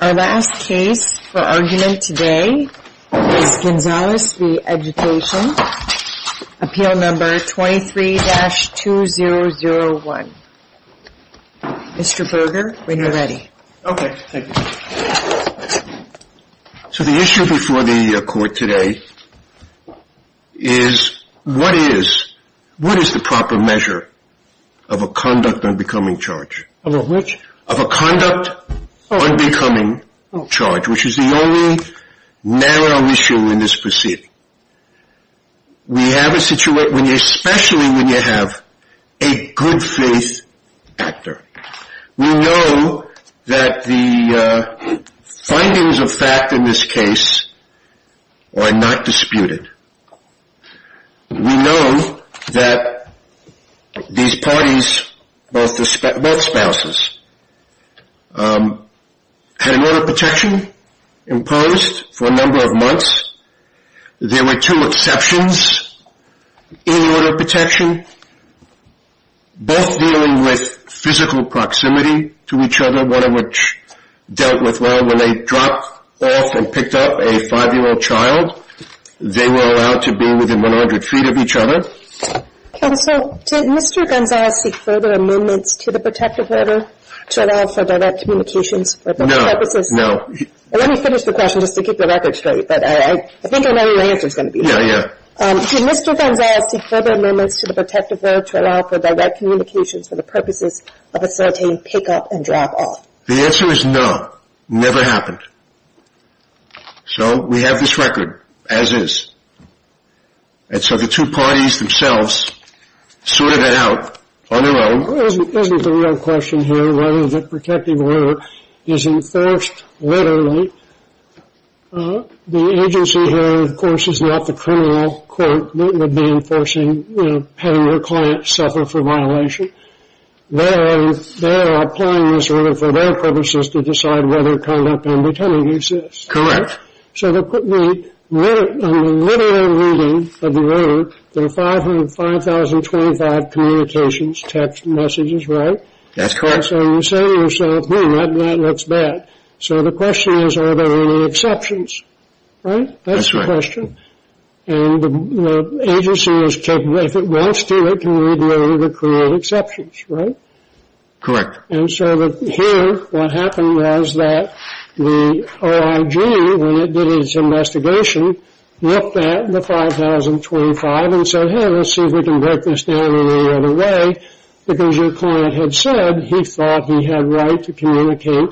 Our last case for argument today is Gonzalez v. Education, appeal number 23-2001. Mr. Berger, when you're ready. Okay, thank you. So the issue before the court today is what is the proper measure of a conduct unbecoming charge? Of a which? Of a conduct unbecoming charge, which is the only narrow issue in this proceeding. We have a situation, especially when you have a good faith actor. We know that the findings of fact in this case are not disputed. We know that these parties, both spouses, had an order of protection imposed for a number of months. There were two exceptions in the order of protection, both dealing with physical proximity to each other, one of which dealt with, well, when they dropped off and picked up a 5-year-old child, they were allowed to be within 100 feet of each other. Counsel, did Mr. Gonzalez seek further amendments to the protective order to allow for direct communications for those purposes? No, no. Let me finish the question just to keep the record straight. I think I know what your answer is going to be. Yeah, yeah. Did Mr. Gonzalez seek further amendments to the protective order to allow for direct communications for the purposes of facilitating pick-up and drop-off? The answer is no, never happened. So we have this record as is. And so the two parties themselves sorted it out on their own. Isn't the real question here, rather, that protective order is enforced literally. The agency here, of course, is not the criminal court that would be enforcing having your client suffer for violation. They are applying this order for their purposes to decide whether conduct and pretending exists. Correct. So on the literal reading of the order, there are 5,025 communications, text messages, right? That's correct. So you say to yourself, hmm, that looks bad. So the question is, are there any exceptions? Right? That's the question. And the agency is capable, if it wants to, it can readily recruit exceptions, right? Correct. And so here, what happened was that the OIG, when it did its investigation, looked at the 5,025 and said, hey, let's see if we can break this down in any other way, because your client had said he thought he had right to communicate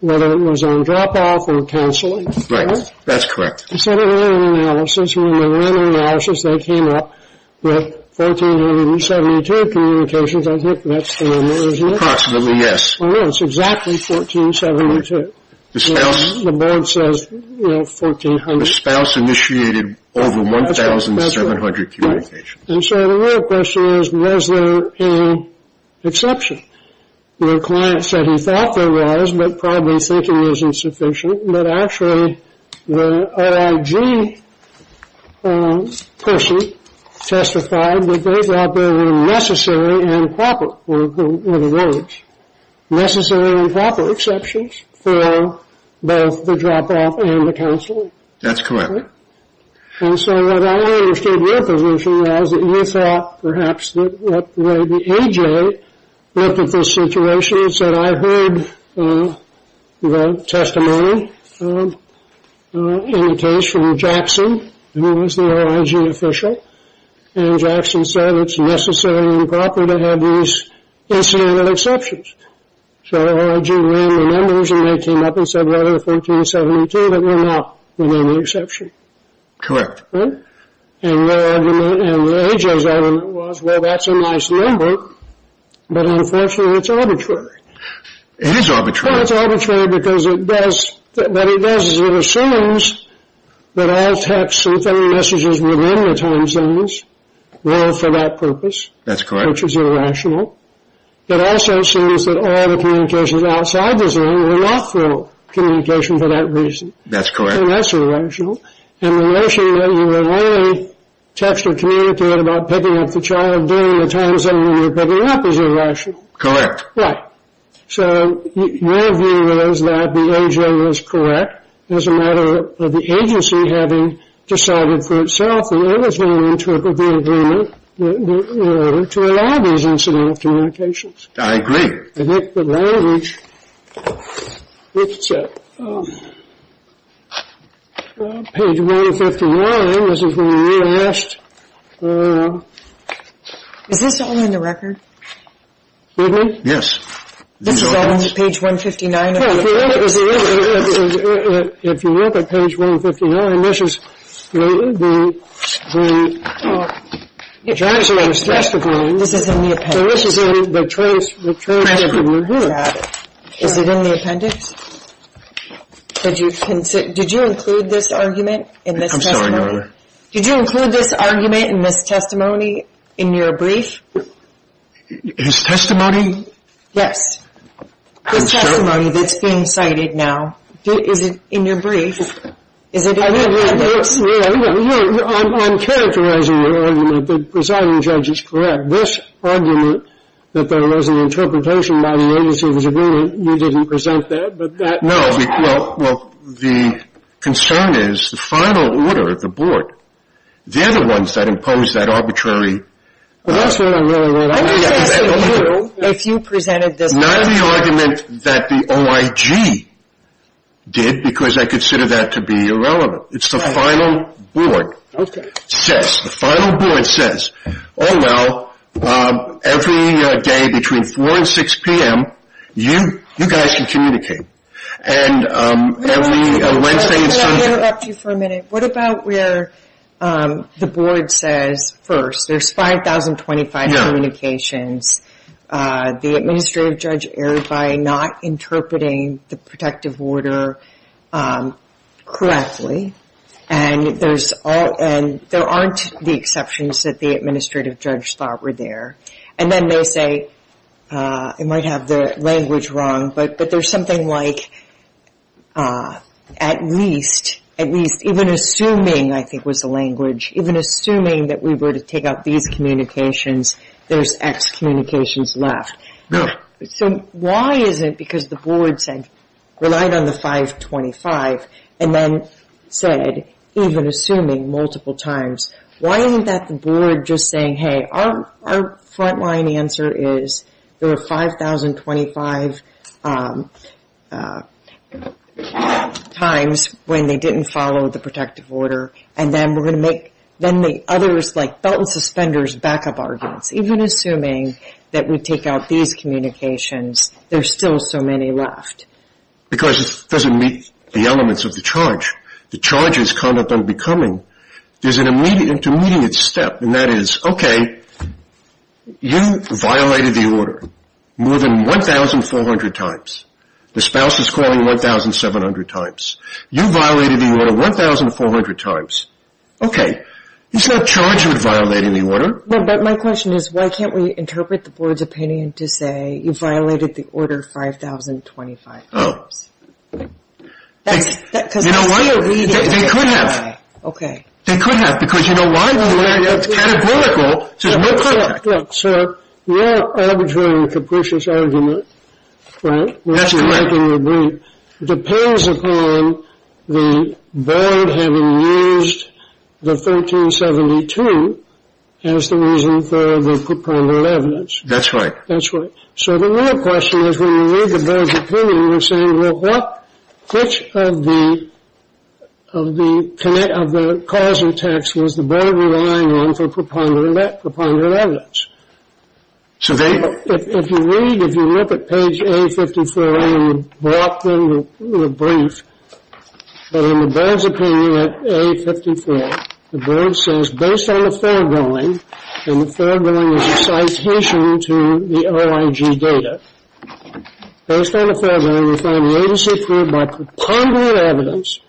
whether it was on drop-off or canceling. Right. That's correct. And so they ran an analysis. When they ran an analysis, they came up with 1,472 communications. I think that's the number, isn't it? Approximately, yes. Oh, no, it's exactly 1,472. The spouse? The board says, you know, 1,400. The spouse initiated over 1,700 communications. And so the real question is, was there an exception? Your client said he thought there was, but probably thinking was insufficient, but actually the OIG person testified that there were necessary and proper, in other words, necessary and proper exceptions for both the drop-off and the canceling. That's correct. And so what I understood your position was that you thought perhaps that the A.J. looked at this situation and said, I heard the testimony in the case from Jackson, who was the OIG official, and Jackson said it's necessary and proper to have these incidental exceptions. So the OIG ran the numbers, and they came up and said, rather than 1,472, that we're not running the exception. Correct. And their argument and the A.J.'s argument was, well, that's a nice number, but unfortunately it's arbitrary. It is arbitrary. Well, it's arbitrary because what it does is it assumes that all texts and phone messages within the time zones were for that purpose. That's correct. Which is irrational. It also assumes that all the communications outside the zone were not for communication for that reason. That's correct. And that's irrational. And the notion that you were only texting or communicating about picking up the child during the time zone when you were picking up is irrational. Correct. Right. So my view was that the A.J. was correct. As a matter of the agency having decided for itself that it was going to interpret the agreement in order to allow these incidental communications. I agree. I think the language, it's page 151. This is when we realized. Is this only in the record? Excuse me? Yes. This is only page 159 of the records. If you look at page 159, this is the transcript of the agreement. This is in the appendix. This is in the transcript of the agreement. Is it in the appendix? Did you include this argument in this testimony? I'm sorry, Your Honor. Did you include this argument in this testimony in your brief? His testimony? Yes. His testimony that's being cited now. Is it in your brief? Is it in the appendix? I'm characterizing the argument that the presiding judge is correct. This argument that there was an interpretation by the agency of his agreement, you didn't present that? No. Well, the concern is the final order, the board, they're the ones that imposed that arbitrary. That's what I really want to know. If you presented this argument. Not the argument that the OIG did because I consider that to be irrelevant. It's the final board. The final board says, oh, well, every day between 4 and 6 p.m., you guys can communicate. And every Wednesday and Sunday. May I interrupt you for a minute? What about where the board says first, there's 5,025 communicators. The administrative judge erred by not interpreting the protective order correctly. And there aren't the exceptions that the administrative judge thought were there. And then they say, I might have the language wrong, but there's something like at least, even assuming I think was the language, even assuming that we were to take out these communications, there's X communications left. So why is it because the board said, relied on the 525, and then said, even assuming multiple times, why isn't that the board just saying, hey, our front-line answer is there are 5,025 times when they didn't follow And then we're going to make others like belt and suspenders backup arguments. Even assuming that we take out these communications, there's still so many left. Because it doesn't meet the elements of the charge. The charge is conduct unbecoming. There's an intermediate step, and that is, okay, you violated the order more than 1,400 times. The spouse is calling 1,700 times. You violated the order 1,400 times. Okay. It's not charged with violating the order. But my question is, why can't we interpret the board's opinion to say you violated the order 5,025 times? Because they're still reading it that way. They could have. Okay. They could have, because you know why? It's categorical. There's no contact. Look, sir, your arbitrary and capricious argument, right, depends upon the board having used the 1,372 as the reason for the preponderant evidence. That's right. That's right. So the real question is, when you read the board's opinion, you're saying, well, which of the causal texts was the board relying on for preponderant evidence? If you read, if you look at page A54A and you brought them the brief, but in the board's opinion at A54, the board says, based on the foregoing, and the foregoing is a citation to the OIG data, based on the foregoing, we find latest proof by preponderant evidence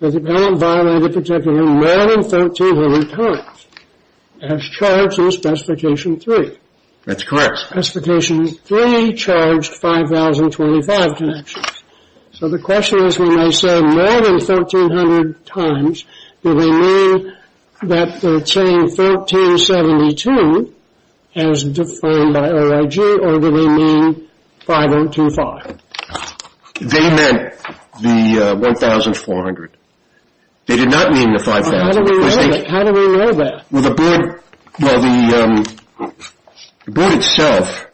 that you violated the particular order more than 1,300 times, as charged in Specification 3. That's correct. Specification 3 charged 5,025 connections. So the question is, when I say more than 1,300 times, do they mean that they're saying 1,372 as defined by OIG, or do they mean 5,025? They meant the 1,400. They did not mean the 5,000. How do we know that? Well, the board, well, the board itself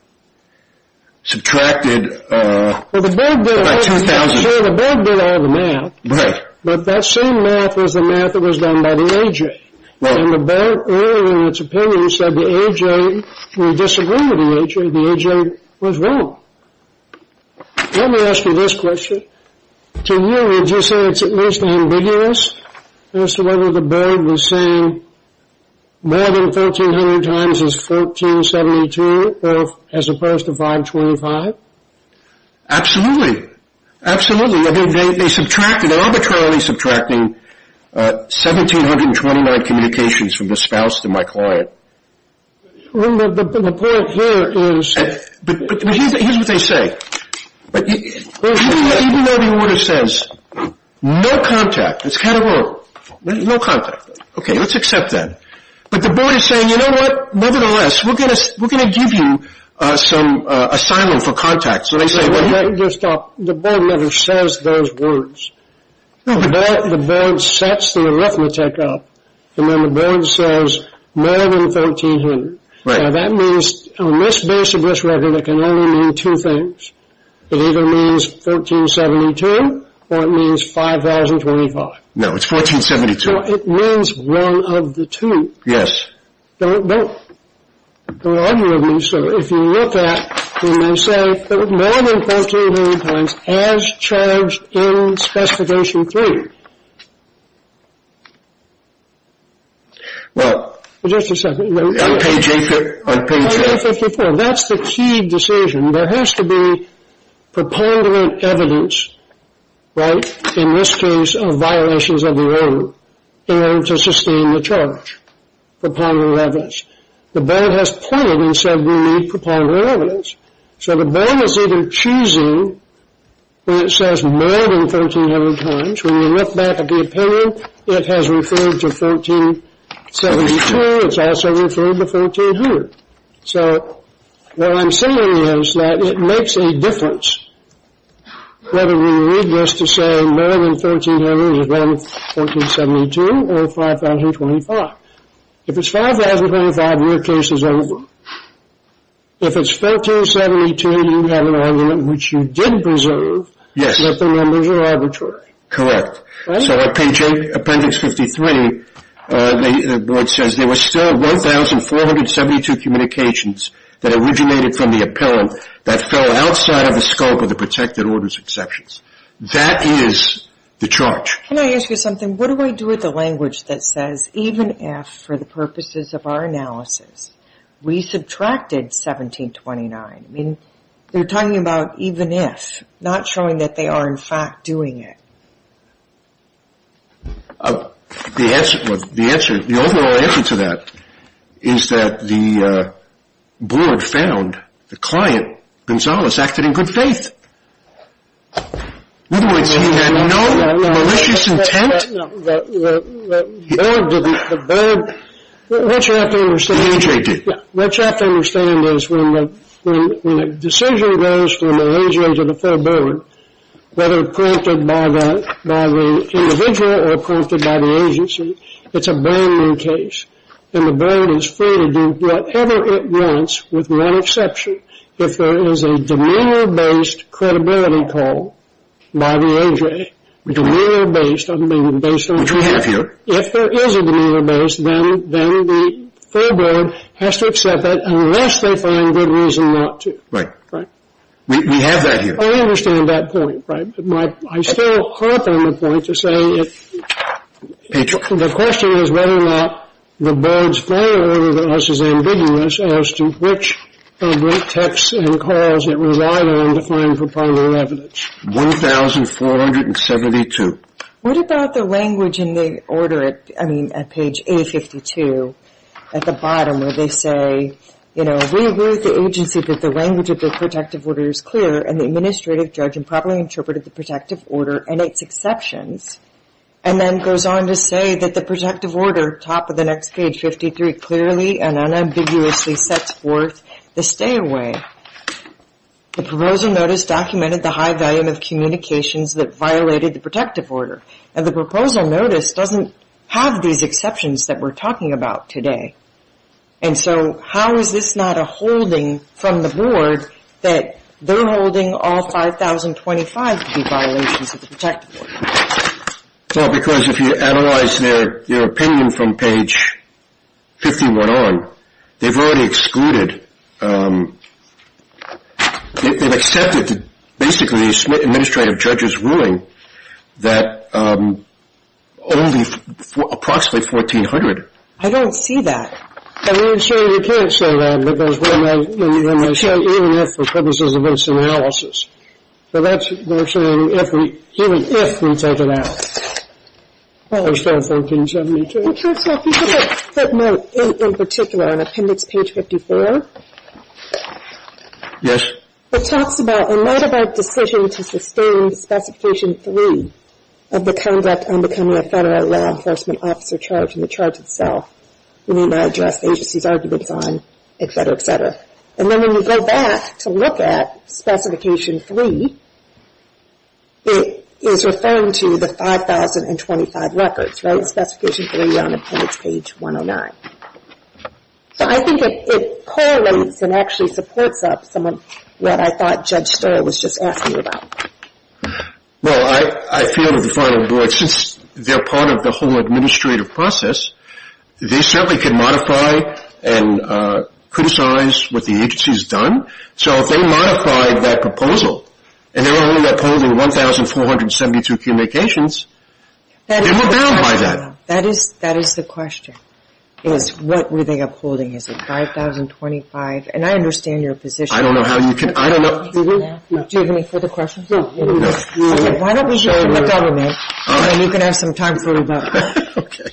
subtracted about 2,000. Well, the board did all the math. Right. But that same math was the math that was done by the OIG. And the board earlier in its opinion said the OIG, we disagree with the OIG, the OIG was wrong. Let me ask you this question. To you, did you say it's at most ambiguous as to whether the board was saying more than 1,300 times is 1,472, as opposed to 5,025? Absolutely. Absolutely. They subtracted, arbitrarily subtracting 1,729 communications from the spouse to my client. The point here is. Here's what they say. Even though the order says no contact, it's kind of wrong. No contact. Okay, let's accept that. But the board is saying, you know what, nevertheless, we're going to give you some asylum for contact. So they say. The board never says those words. The board sets the arithmetic up, and then the board says more than 1,300. Right. Now, that means on this base of this record, it can only mean two things. It either means 1,372 or it means 5,025. No, it's 1,472. So it means one of the two. Yes. Don't argue with me, sir. If you look at, you may say more than 1,400 times as charged in specification three. Well. Just a second. On page 8 there. On page 8. 5,054. That's the key decision. There has to be preponderant evidence, right, in this case of violations of the order, in order to sustain the charge. Preponderant evidence. The board has pointed and said we need preponderant evidence. So the board is even choosing when it says more than 1,300 times. It has referred to 1,472. It's also referred to 1,400. So what I'm saying is that it makes a difference whether we read this to say more than 1,300 is 1,472 or 5,025. If it's 5,025, your case is over. If it's 1,472, you have an argument which you did preserve that the numbers are arbitrary. Correct. So on page 8, appendix 53, the board says there were still 1,472 communications that originated from the appellant that fell outside of the scope of the protected orders exceptions. That is the charge. Can I ask you something? What do I do with the language that says even if, for the purposes of our analysis, we subtracted 1729? I mean, they're talking about even if, not showing that they are, in fact, doing it. The answer, the overall answer to that is that the board found the client, Gonzales, acted in good faith. Wouldn't we see no malicious intent? What you have to understand is when a decision goes from the A.J. to the fair board, whether prompted by the individual or prompted by the agency, it's a brand-new case. And the board is free to do whatever it wants with one exception. If there is a demeanor-based credibility call by the A.J. Demeanor-based, I don't mean based on the A.J. Which we have here. If there is a demeanor-based, then the fair board has to accept it unless they find good reason not to. Right. Right. We have that here. I understand that point. Right. But I still harp on the point to say the question is whether or not the board's failure of us is ambiguous as to which public texts and calls it relied on to claim pro bono evidence. 1,472. What about the language in the order at, I mean, at page A52 at the bottom where they say, you know, we agree with the agency that the language of the protective order is clear and the administrative judge improperly interpreted the protective order and its exceptions and then goes on to say that the protective order, top of the next page, 53, clearly and unambiguously sets forth the stay away. The proposal notice documented the high value of communications that violated the protective order. And the proposal notice doesn't have these exceptions that we're talking about today. And so how is this not a holding from the board that they're holding all 5,025 to be violations of the protective order? Well, because if you analyze their opinion from page 51 on, they've already excluded, they've accepted basically the administrative judge's ruling that only approximately 1,400. I don't see that. I mean, certainly you can't say that, because when they say even if the purposes of this analysis, but that's what they're saying, even if we take it out, as far as 1,472. Mr. Fisher, if you could put note in particular on appendix page 54. Yes. It talks a lot about decision to sustain specification three of the conduct on becoming a federal law enforcement officer charged in the charge itself. We may not address the agency's arguments on, et cetera, et cetera. And then when you go back to look at specification three, it is referring to the 5,025 records, right? Specification three on appendix page 109. So I think it correlates and actually supports up some of what I thought Judge Sterr was just asking about. Well, I feel that the final board, since they're part of the whole administrative process, they certainly can modify and criticize what the agency's done. So if they modified that proposal and they were only upholding 1,472 communications, then we're bound by that. That is the question, is what were they upholding? Is it 5,025? And I understand your position. I don't know how you can – I don't know. Do you have any further questions? Okay. Why don't we show it to the government and you can have some time for rebuttal. Okay.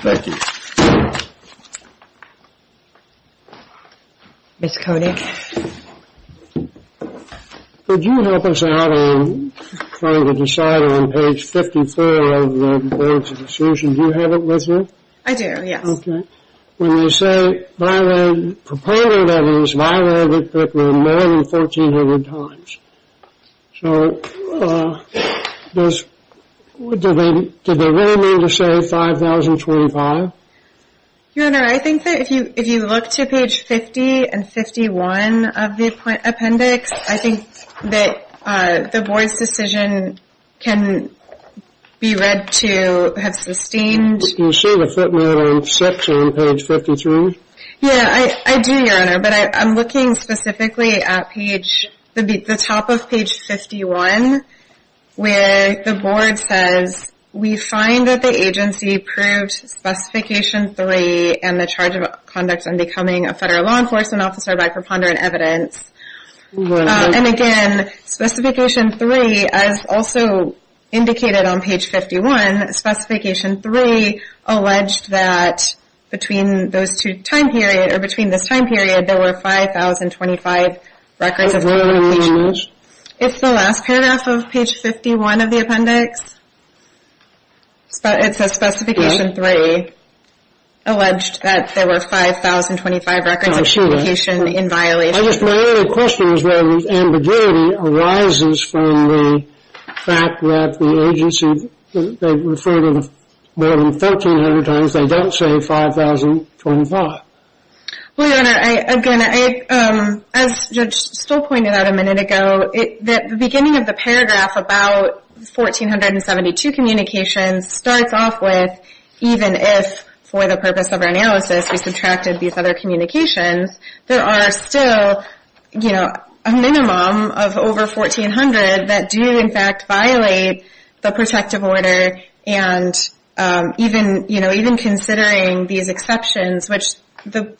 Thank you. Ms. Koenig. Could you help us out on trying to decide on page 54 of the grades of assertion? Do you have it with you? I do, yes. Okay. When you say violated – propounded evidence violated Fitman more than 1,400 times. So does – did they really mean to say 5,025? Your Honor, I think that if you look to page 50 and 51 of the appendix, I think that the board's decision can be read to have sustained – can you see the Fitman on section on page 53? Yeah, I do, Your Honor. But I'm looking specifically at page – the top of page 51 where the board says, we find that the agency proved specification three and the charge of conduct in becoming a federal law enforcement officer by preponderant evidence. And again, specification three, as also indicated on page 51, specification three alleged that between those two time periods or between this time period there were 5,025 records of communication. What does that mean in English? It's the last paragraph of page 51 of the appendix. It says specification three alleged that there were 5,025 records of communication in violation. My only question is where this ambiguity arises from the fact that the agency referred to more than 1,300 times, they don't say 5,025. Well, Your Honor, again, as Judge Stoll pointed out a minute ago, the beginning of the paragraph about 1,472 communications starts off with even if for the purpose of our analysis we subtracted these other communications, there are still a minimum of over 1,400 that do in fact violate the protective order. And even considering these exceptions, which the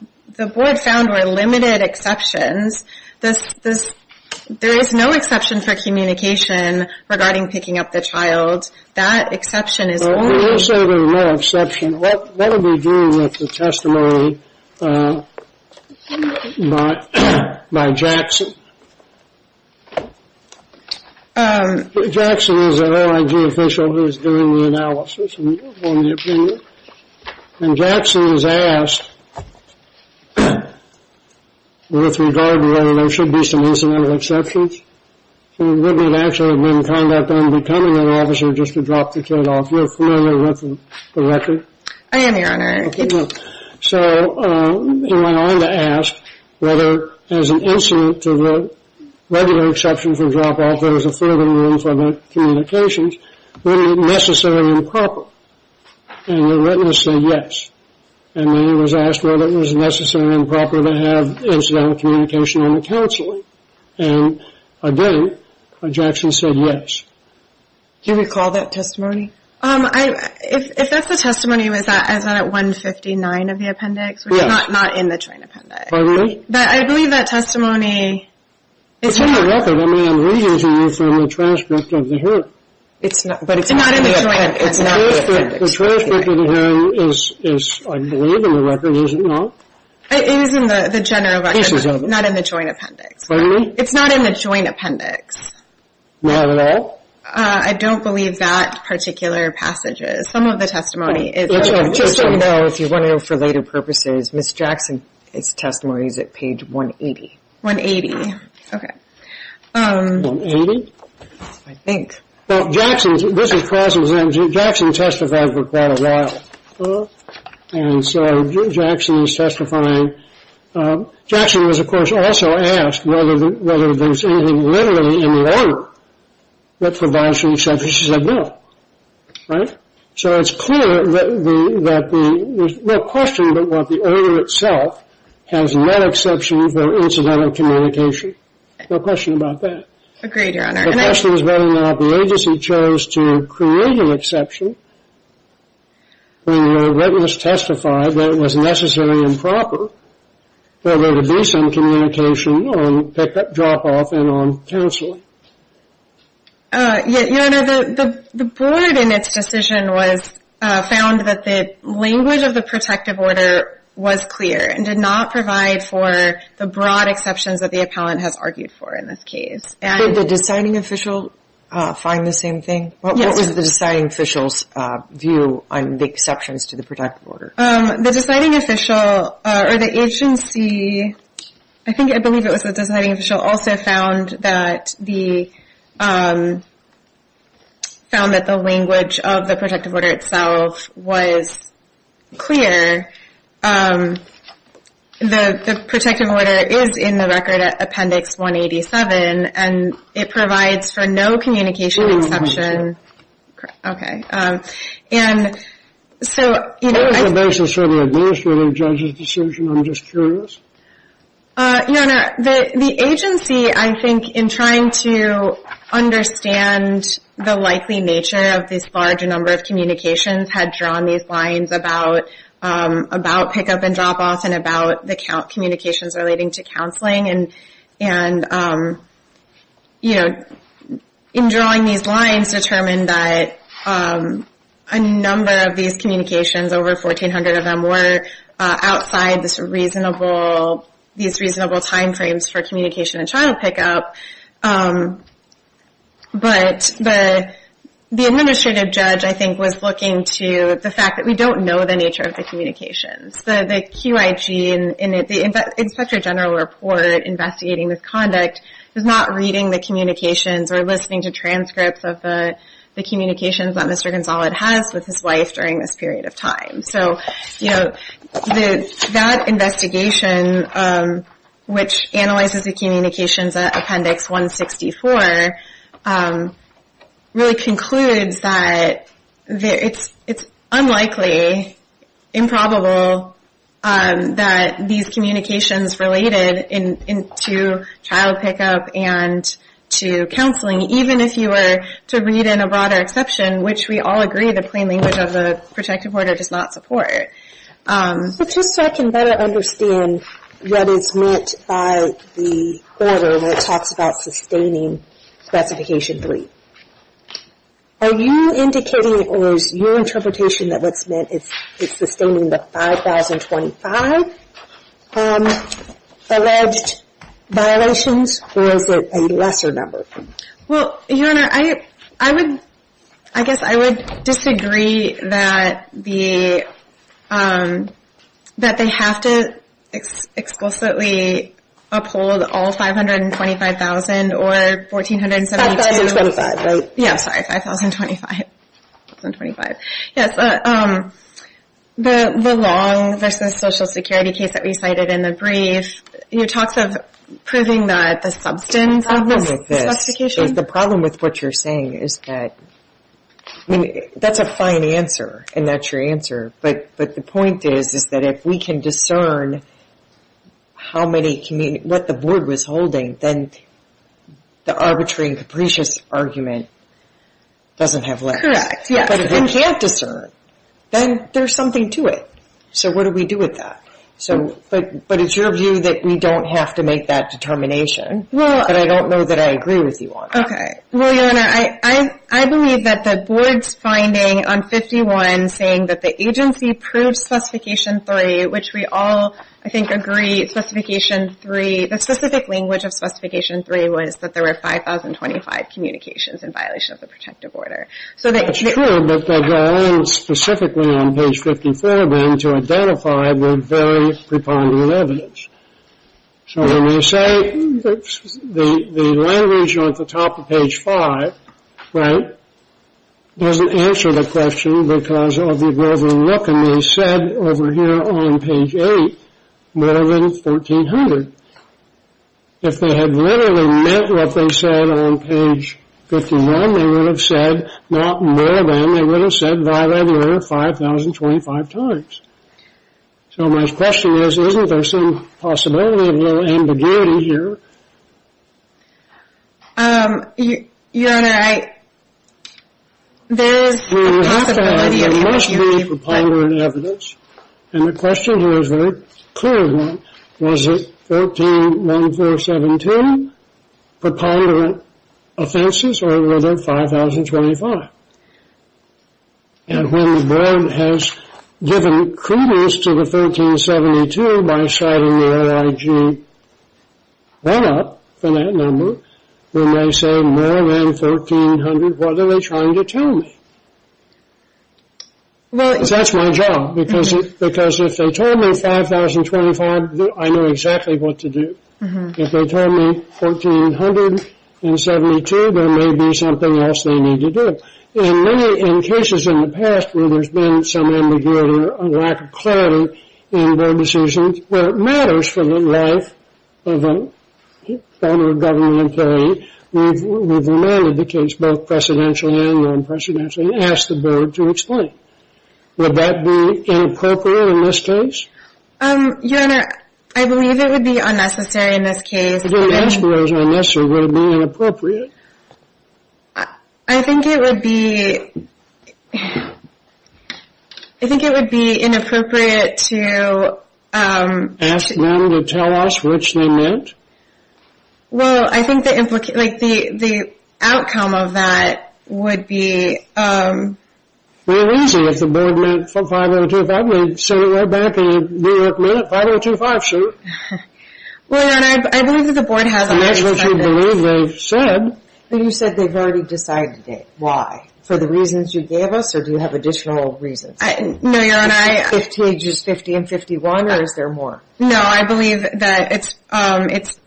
board found were limited exceptions, there is no exception for communication regarding picking up the child. Well, we will say there is no exception. What do we do with the testimony by Jackson? Jackson is an RIG official who is doing the analysis on the opinion. And Jackson is asked with regard to whether there should be some incidental exceptions. And Whitney had actually been in conduct on becoming an officer just to drop the kid off. You're familiar with the record? I am, Your Honor. So he went on to ask whether as an incident to the regular exception for drop-off there was a further rule for the communications, would it be necessary and proper? And the witness said yes. And then he was asked whether it was necessary and proper to have incidental communication in the counseling. And again, Jackson said yes. Do you recall that testimony? If that's the testimony, was that at 159 of the appendix? Yes. Which is not in the joint appendix. Pardon me? But I believe that testimony is not. It's in the record. I mean, I'm reusing it from the transcript of the hearing. It's not in the joint appendix. The transcript of the hearing is, I believe, in the record, is it not? It is in the general record, not in the joint appendix. Pardon me? It's not in the joint appendix. Not at all? I don't believe that particular passage is. Some of the testimony is. Just so you know, if you want to know for later purposes, Ms. Jackson's testimony is at page 180. 180. Okay. 180? I think. Well, Jackson, this is cross-examined. Jackson testified for quite a while. And so Jackson is testifying. Jackson was, of course, also asked whether there's anything literally in the order that provides for exception. She said no. Right? So it's clear that there's no question that the order itself has no exception for incidental communication. No question about that. Agreed, Your Honor. The question is whether or not the agency chose to create an exception when the witness testified that it was necessary and proper for there to be some communication on pick-up, drop-off, and on counseling. Your Honor, the board in its decision found that the language of the protective order was clear and did not provide for the broad exceptions that the appellant has argued for in this case. Did the deciding official find the same thing? Yes. What was the deciding official's view on the exceptions to the protective order? The deciding official or the agency, I think I believe it was the deciding official, also found that the language of the protective order itself was clear. The protective order is in the record at Appendix 187, and it provides for no communication exception. Okay. What was the basis for the administrative judge's decision? I'm just curious. Your Honor, the agency, I think, in trying to understand the likely nature of this large number of communications, had drawn these lines about pick-up and drop-off and about the communications relating to counseling. And, you know, in drawing these lines, determined that a number of these communications, over 1,400 of them, were outside these reasonable timeframes for communication and child pick-up. But the administrative judge, I think, was looking to the fact that we don't know the nature of the communications. The QIG, the Inspector General Report investigating this conduct, was not reading the communications or listening to transcripts of the communications that Mr. Gonzalez has with his wife during this period of time. So, you know, that investigation, which analyzes the communications at Appendix 164, really concludes that it's unlikely, improbable, that these communications related to child pick-up and to counseling, even if you were to read in a broader exception, which we all agree the plain language of the protective order does not support. But just so I can better understand what is meant by the order that talks about sustaining Specification 3. Are you indicating or is your interpretation that what's meant is sustaining the 5,025 alleged violations, or is it a lesser number? Well, Your Honor, I guess I would disagree that they have to explicitly uphold all 525,000 or 1,472. 5,025. Yeah, sorry, 5,025. Yes, the Long v. Social Security case that we cited in the brief, you know, talks of proving that the substance of the specification. The problem with this, the problem with what you're saying is that, I mean, that's a fine answer, and that's your answer. But the point is that if we can discern how many, what the board was holding, then the arbitrary and capricious argument doesn't have less. Correct, yes. But if we can't discern, then there's something to it. So what do we do with that? But it's your view that we don't have to make that determination. But I don't know that I agree with you on that. Well, Your Honor, I believe that the board's finding on 51 saying that the agency proved Specification 3, which we all, I think, agree, the specific language of Specification 3 was that there were 5,025 communications in violation of the protective order. That's true, but they go on specifically on page 54, then, to identify the very preponderant evidence. So when you say the language on the top of page 5, right, doesn't answer the question because of the relevant look. And they said over here on page 8, more than 1,400. If they had literally meant what they said on page 51, they would have said, not more than, they would have said, violator 5,025 times. So my question is, isn't there some possibility of a little ambiguity here? Your Honor, I, there is a possibility. There must be preponderant evidence, and the question here is very clear. Was it 1,417 preponderant offenses, or were there 5,025? And when the board has given credence to the 1,372 by citing the OIG run-up for that number, when they say more than 1,300, what are they trying to tell me? Well, that's my job, because if they told me 5,025, I knew exactly what to do. If they told me 1,472, there may be something else they need to do. In many, in cases in the past where there's been some ambiguity or lack of clarity in board decisions, where it matters for the life of a federal government employee, we've reminded the case both precedentially and non-precedentially and asked the board to explain. Would that be inappropriate in this case? Your Honor, I believe it would be unnecessary in this case. If you didn't ask whether it was unnecessary, would it be inappropriate? I think it would be, I think it would be inappropriate to... Ask them to tell us which they meant? Well, I think the implication, like the outcome of that would be... Real easy, if the board meant 5,025, we'd send it right back and New York made it 5,025, see? Well, Your Honor, I believe that the board has already said this. That's what we believe they've said. But you said they've already decided it. Why? For the reasons you gave us, or do you have additional reasons? No, Your Honor, I... Is it 50, just 50 and 51, or is there more? No, I believe that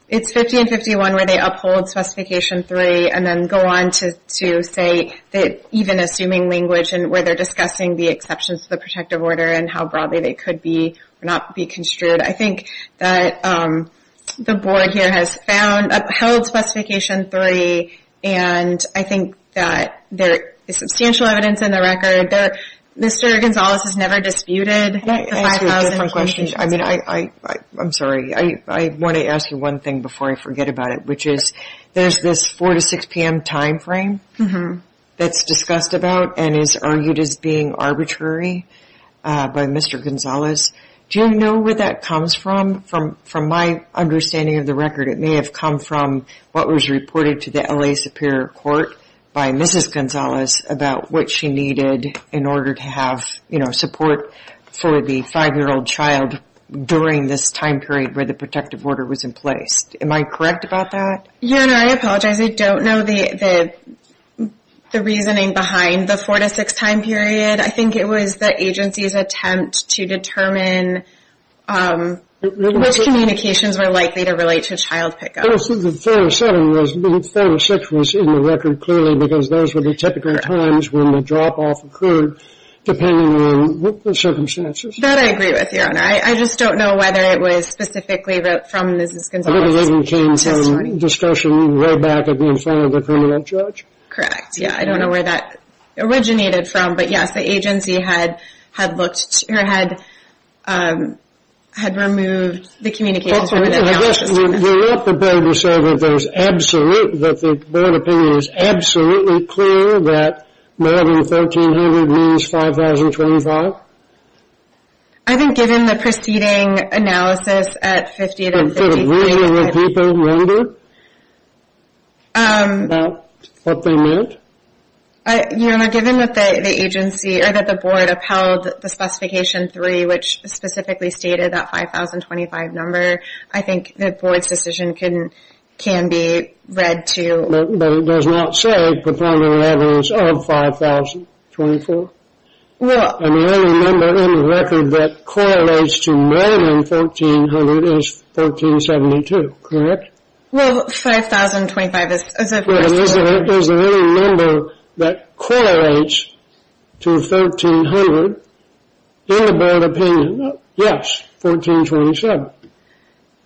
it's 50 and 51 where they uphold Specification 3 and then go on to say that even assuming language and where they're discussing the exceptions to the protective order and how broadly they could be or not be construed. I think that the board here has found, upheld Specification 3, and I think that there is substantial evidence in the record that Mr. Gonzales has never disputed the 5,000... I'm sorry, I want to ask you one thing before I forget about it, which is there's this 4 to 6 p.m. time frame that's discussed about and is argued as being arbitrary by Mr. Gonzales. Do you know where that comes from? From my understanding of the record, it may have come from what was reported to the L.A. Superior Court by Mrs. Gonzales about what she needed in order to have support for the 5-year-old child during this time period where the protective order was in place. Am I correct about that? Your Honor, I apologize. I don't know the reasoning behind the 4 to 6 time period. I think it was the agency's attempt to determine which communications were likely to relate to child pickup. I don't think the 4 to 6 was in the record, clearly, because those would be typical times when the drop-off occurred, depending on the circumstances. That I agree with, Your Honor. I just don't know whether it was specifically from Mrs. Gonzales. I believe it came from discussion way back in front of the permanent judge. Correct. Yeah, I don't know where that originated from. But, yes, the agency had looked, or had removed the communications... Your Honor, I guess you want the board to say that the board opinion is absolutely clear that 11,300 means 5,025? I think given the preceding analysis at 50 to 53... The reasoning that people rendered about what they meant? Your Honor, given that the agency, or that the board, upheld the specification 3, which specifically stated that 5,025 number, I think the board's decision can be read to... But it does not say the point of evidence of 5,024? Well... I mean, any number in the record that correlates to more than 1,400 is 1,472, correct? Well, 5,025 is... 5,025 is the only number that correlates to 1,300 in the board opinion. Yes, 1,427.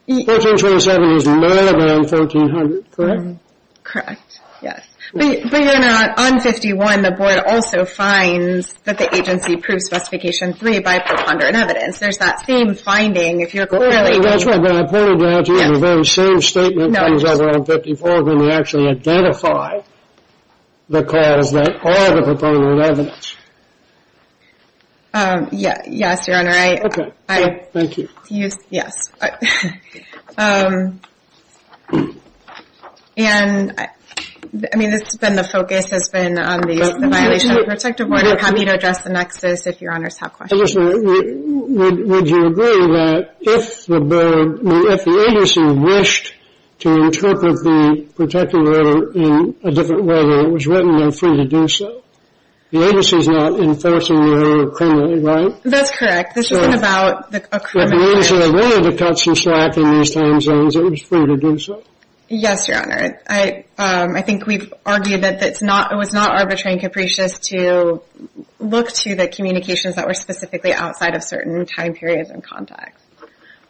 1,427 is not around 1,400, correct? Correct, yes. But, Your Honor, on 51, the board also finds that the agency proved specification 3 by preponderant evidence. There's that same finding, if you're really... That's what I pointed out to you, the very same statement comes out on 54, when we actually identify the cause that are the preponderant evidence. Yes, Your Honor, I... Thank you. Yes. And, I mean, this has been the focus, has been on the violation of the protective order. I'm happy to address the nexus if Your Honors have questions. Well, just a minute. Would you agree that if the agency wished to interpret the protective order in a different way than it was written, they're free to do so? The agency's not enforcing the order criminally, right? That's correct. This isn't about a criminal case. If the agency wanted to cut some slack in these time zones, it was free to do so? Yes, Your Honor. I think we've argued that it was not arbitrary and capricious to look to the communications that were specifically outside of certain time periods and contexts.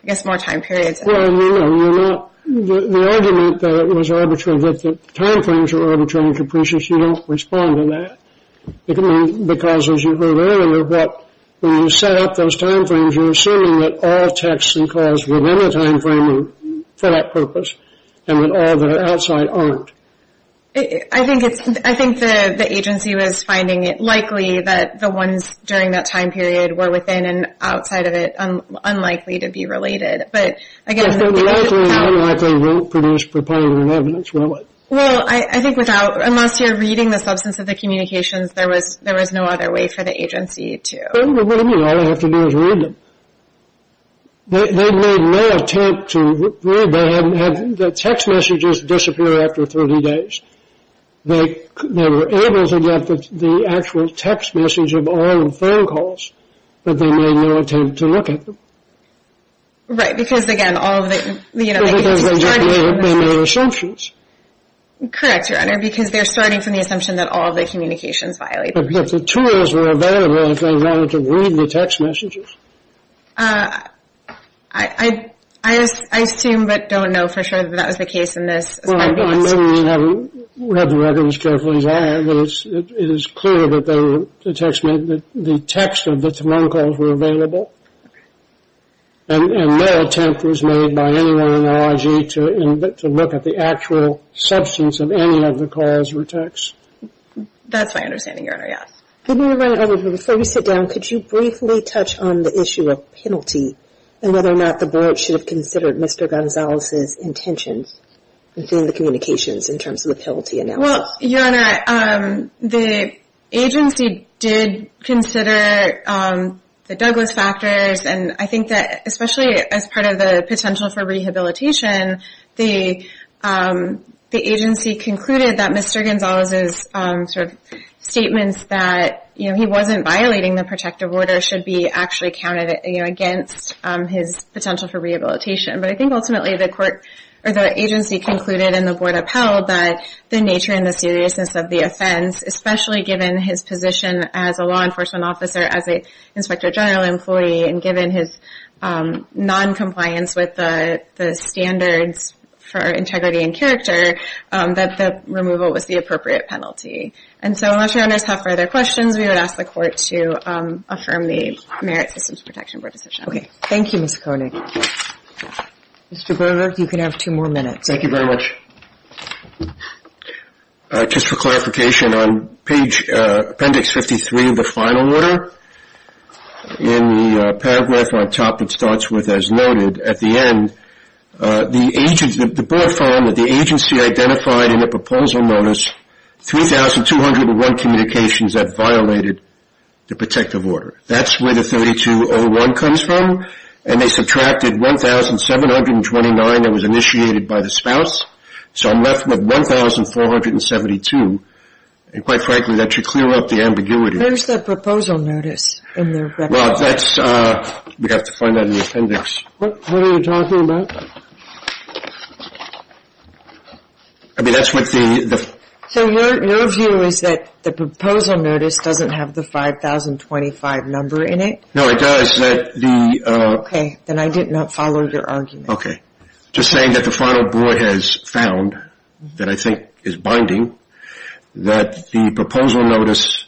I guess more time periods. Well, I mean, you're not... The argument that it was arbitrary, that the time frames were arbitrary and capricious, you don't respond to that. Because, as you heard earlier, when you set up those time frames, you're assuming that all texts and calls were in a time frame for that purpose and that all that are outside aren't. I think the agency was finding it likely that the ones during that time period were within and outside of it unlikely to be related. But, again... If they're likely and unlikely, it won't produce proponent evidence, will it? Well, I think unless you're reading the substance of the communications, there was no other way for the agency to... Well, what do you mean? All they have to do is read them. They made no attempt to read them. The text messages disappeared after 30 days. They were able to get the actual text message of all the phone calls, but they made no attempt to look at them. Right, because, again, all of the... Because they made assumptions. Correct, Your Honor, because they're starting from the assumption that all of the communications violated... But the two of those were available if they wanted to read the text messages. I assume but don't know for sure that that was the case in this. Well, I know you haven't read the records carefully, Your Honor, but it is clear that the text of the phone calls were available, and no attempt was made by anyone in RIG to look at the actual substance of any of the calls or texts. That's my understanding, Your Honor, yes. Before we sit down, could you briefly touch on the issue of penalty and whether or not the board should have considered Mr. Gonzalez's intentions within the communications in terms of the penalty analysis? Well, Your Honor, the agency did consider the Douglas factors, and I think that especially as part of the potential for rehabilitation, the agency concluded that Mr. Gonzalez's statements that he wasn't violating the protective order should be actually counted against his potential for rehabilitation. But I think ultimately the agency concluded and the board upheld that the nature and the seriousness of the offense, especially given his position as a law enforcement officer, as an inspector general employee, and given his noncompliance with the standards for integrity and character, that the removal was the appropriate penalty. And so unless Your Honors have further questions, we would ask the court to affirm the Merit Systems Protection Board decision. Okay. Thank you, Ms. Koenig. Mr. Grover, you can have two more minutes. Thank you very much. Just for clarification, on page appendix 53 of the final order, in the paragraph on top that starts with, as noted, at the end, the board found that the agency identified in the proposal notice 3,201 communications that violated the protective order. That's where the 3,201 comes from. And they subtracted 1,729 that was initiated by the spouse. So I'm left with 1,472. And quite frankly, that should clear up the ambiguity. Where's the proposal notice in the record? Well, that's, we'd have to find that in the appendix. What are you talking about? I mean, that's what the... No, it does. Okay, then I did not follow your argument. Just saying that the final board has found, that I think is binding, that the proposal notice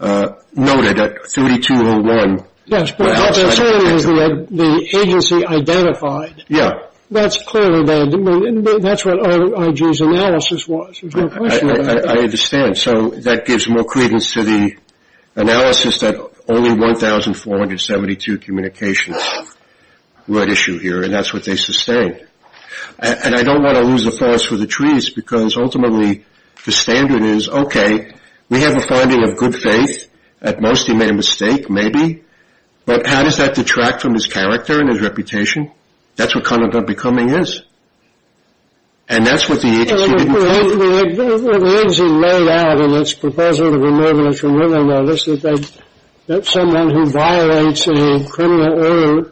noted at 3,201. Yes, but all they're saying is the agency identified. Yeah. That's clearly, that's what IG's analysis was. I understand. So that gives more credence to the analysis that only 1,472 communications were at issue here, and that's what they sustained. And I don't want to lose the forest for the trees, because ultimately the standard is, okay, we have a finding of good faith. At most, he made a mistake, maybe. But how does that detract from his character and his reputation? That's what conduct unbecoming is. And that's what the agency didn't find. Well, the agency laid out in its proposal to remove the removal notice that someone who violates a criminal order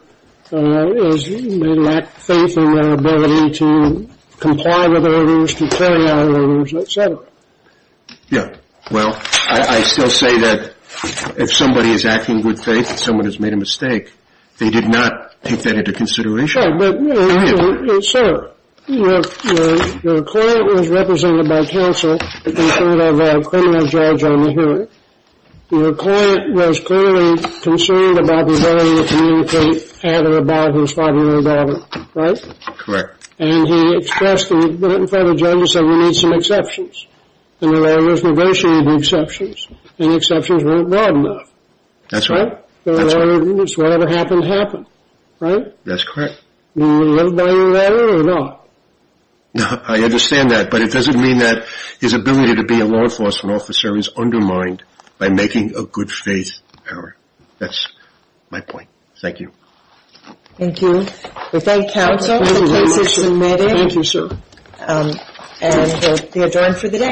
may lack faith in their ability to comply with orders, to carry out orders, et cetera. Yeah. Well, I still say that if somebody is acting in good faith, someone has made a mistake. They did not take that into consideration. Sure. But, sir, your client was represented by counsel in front of a criminal judge on the hearing. Your client was clearly concerned about the ability to communicate at or about his 5-year-old daughter, right? Correct. And he expressed in front of the judge, he said, we need some exceptions. And there were those negotiated exceptions, and the exceptions weren't broad enough. That's right. Right? That's right. Whatever happened, happened, right? That's correct. Would it have been better or not? I understand that, but it doesn't mean that his ability to be a law enforcement officer is undermined by making a good faith error. That's my point. Thank you. Thank you. We thank counsel for the cases submitted. Thank you, sir. And we adjourn for the day.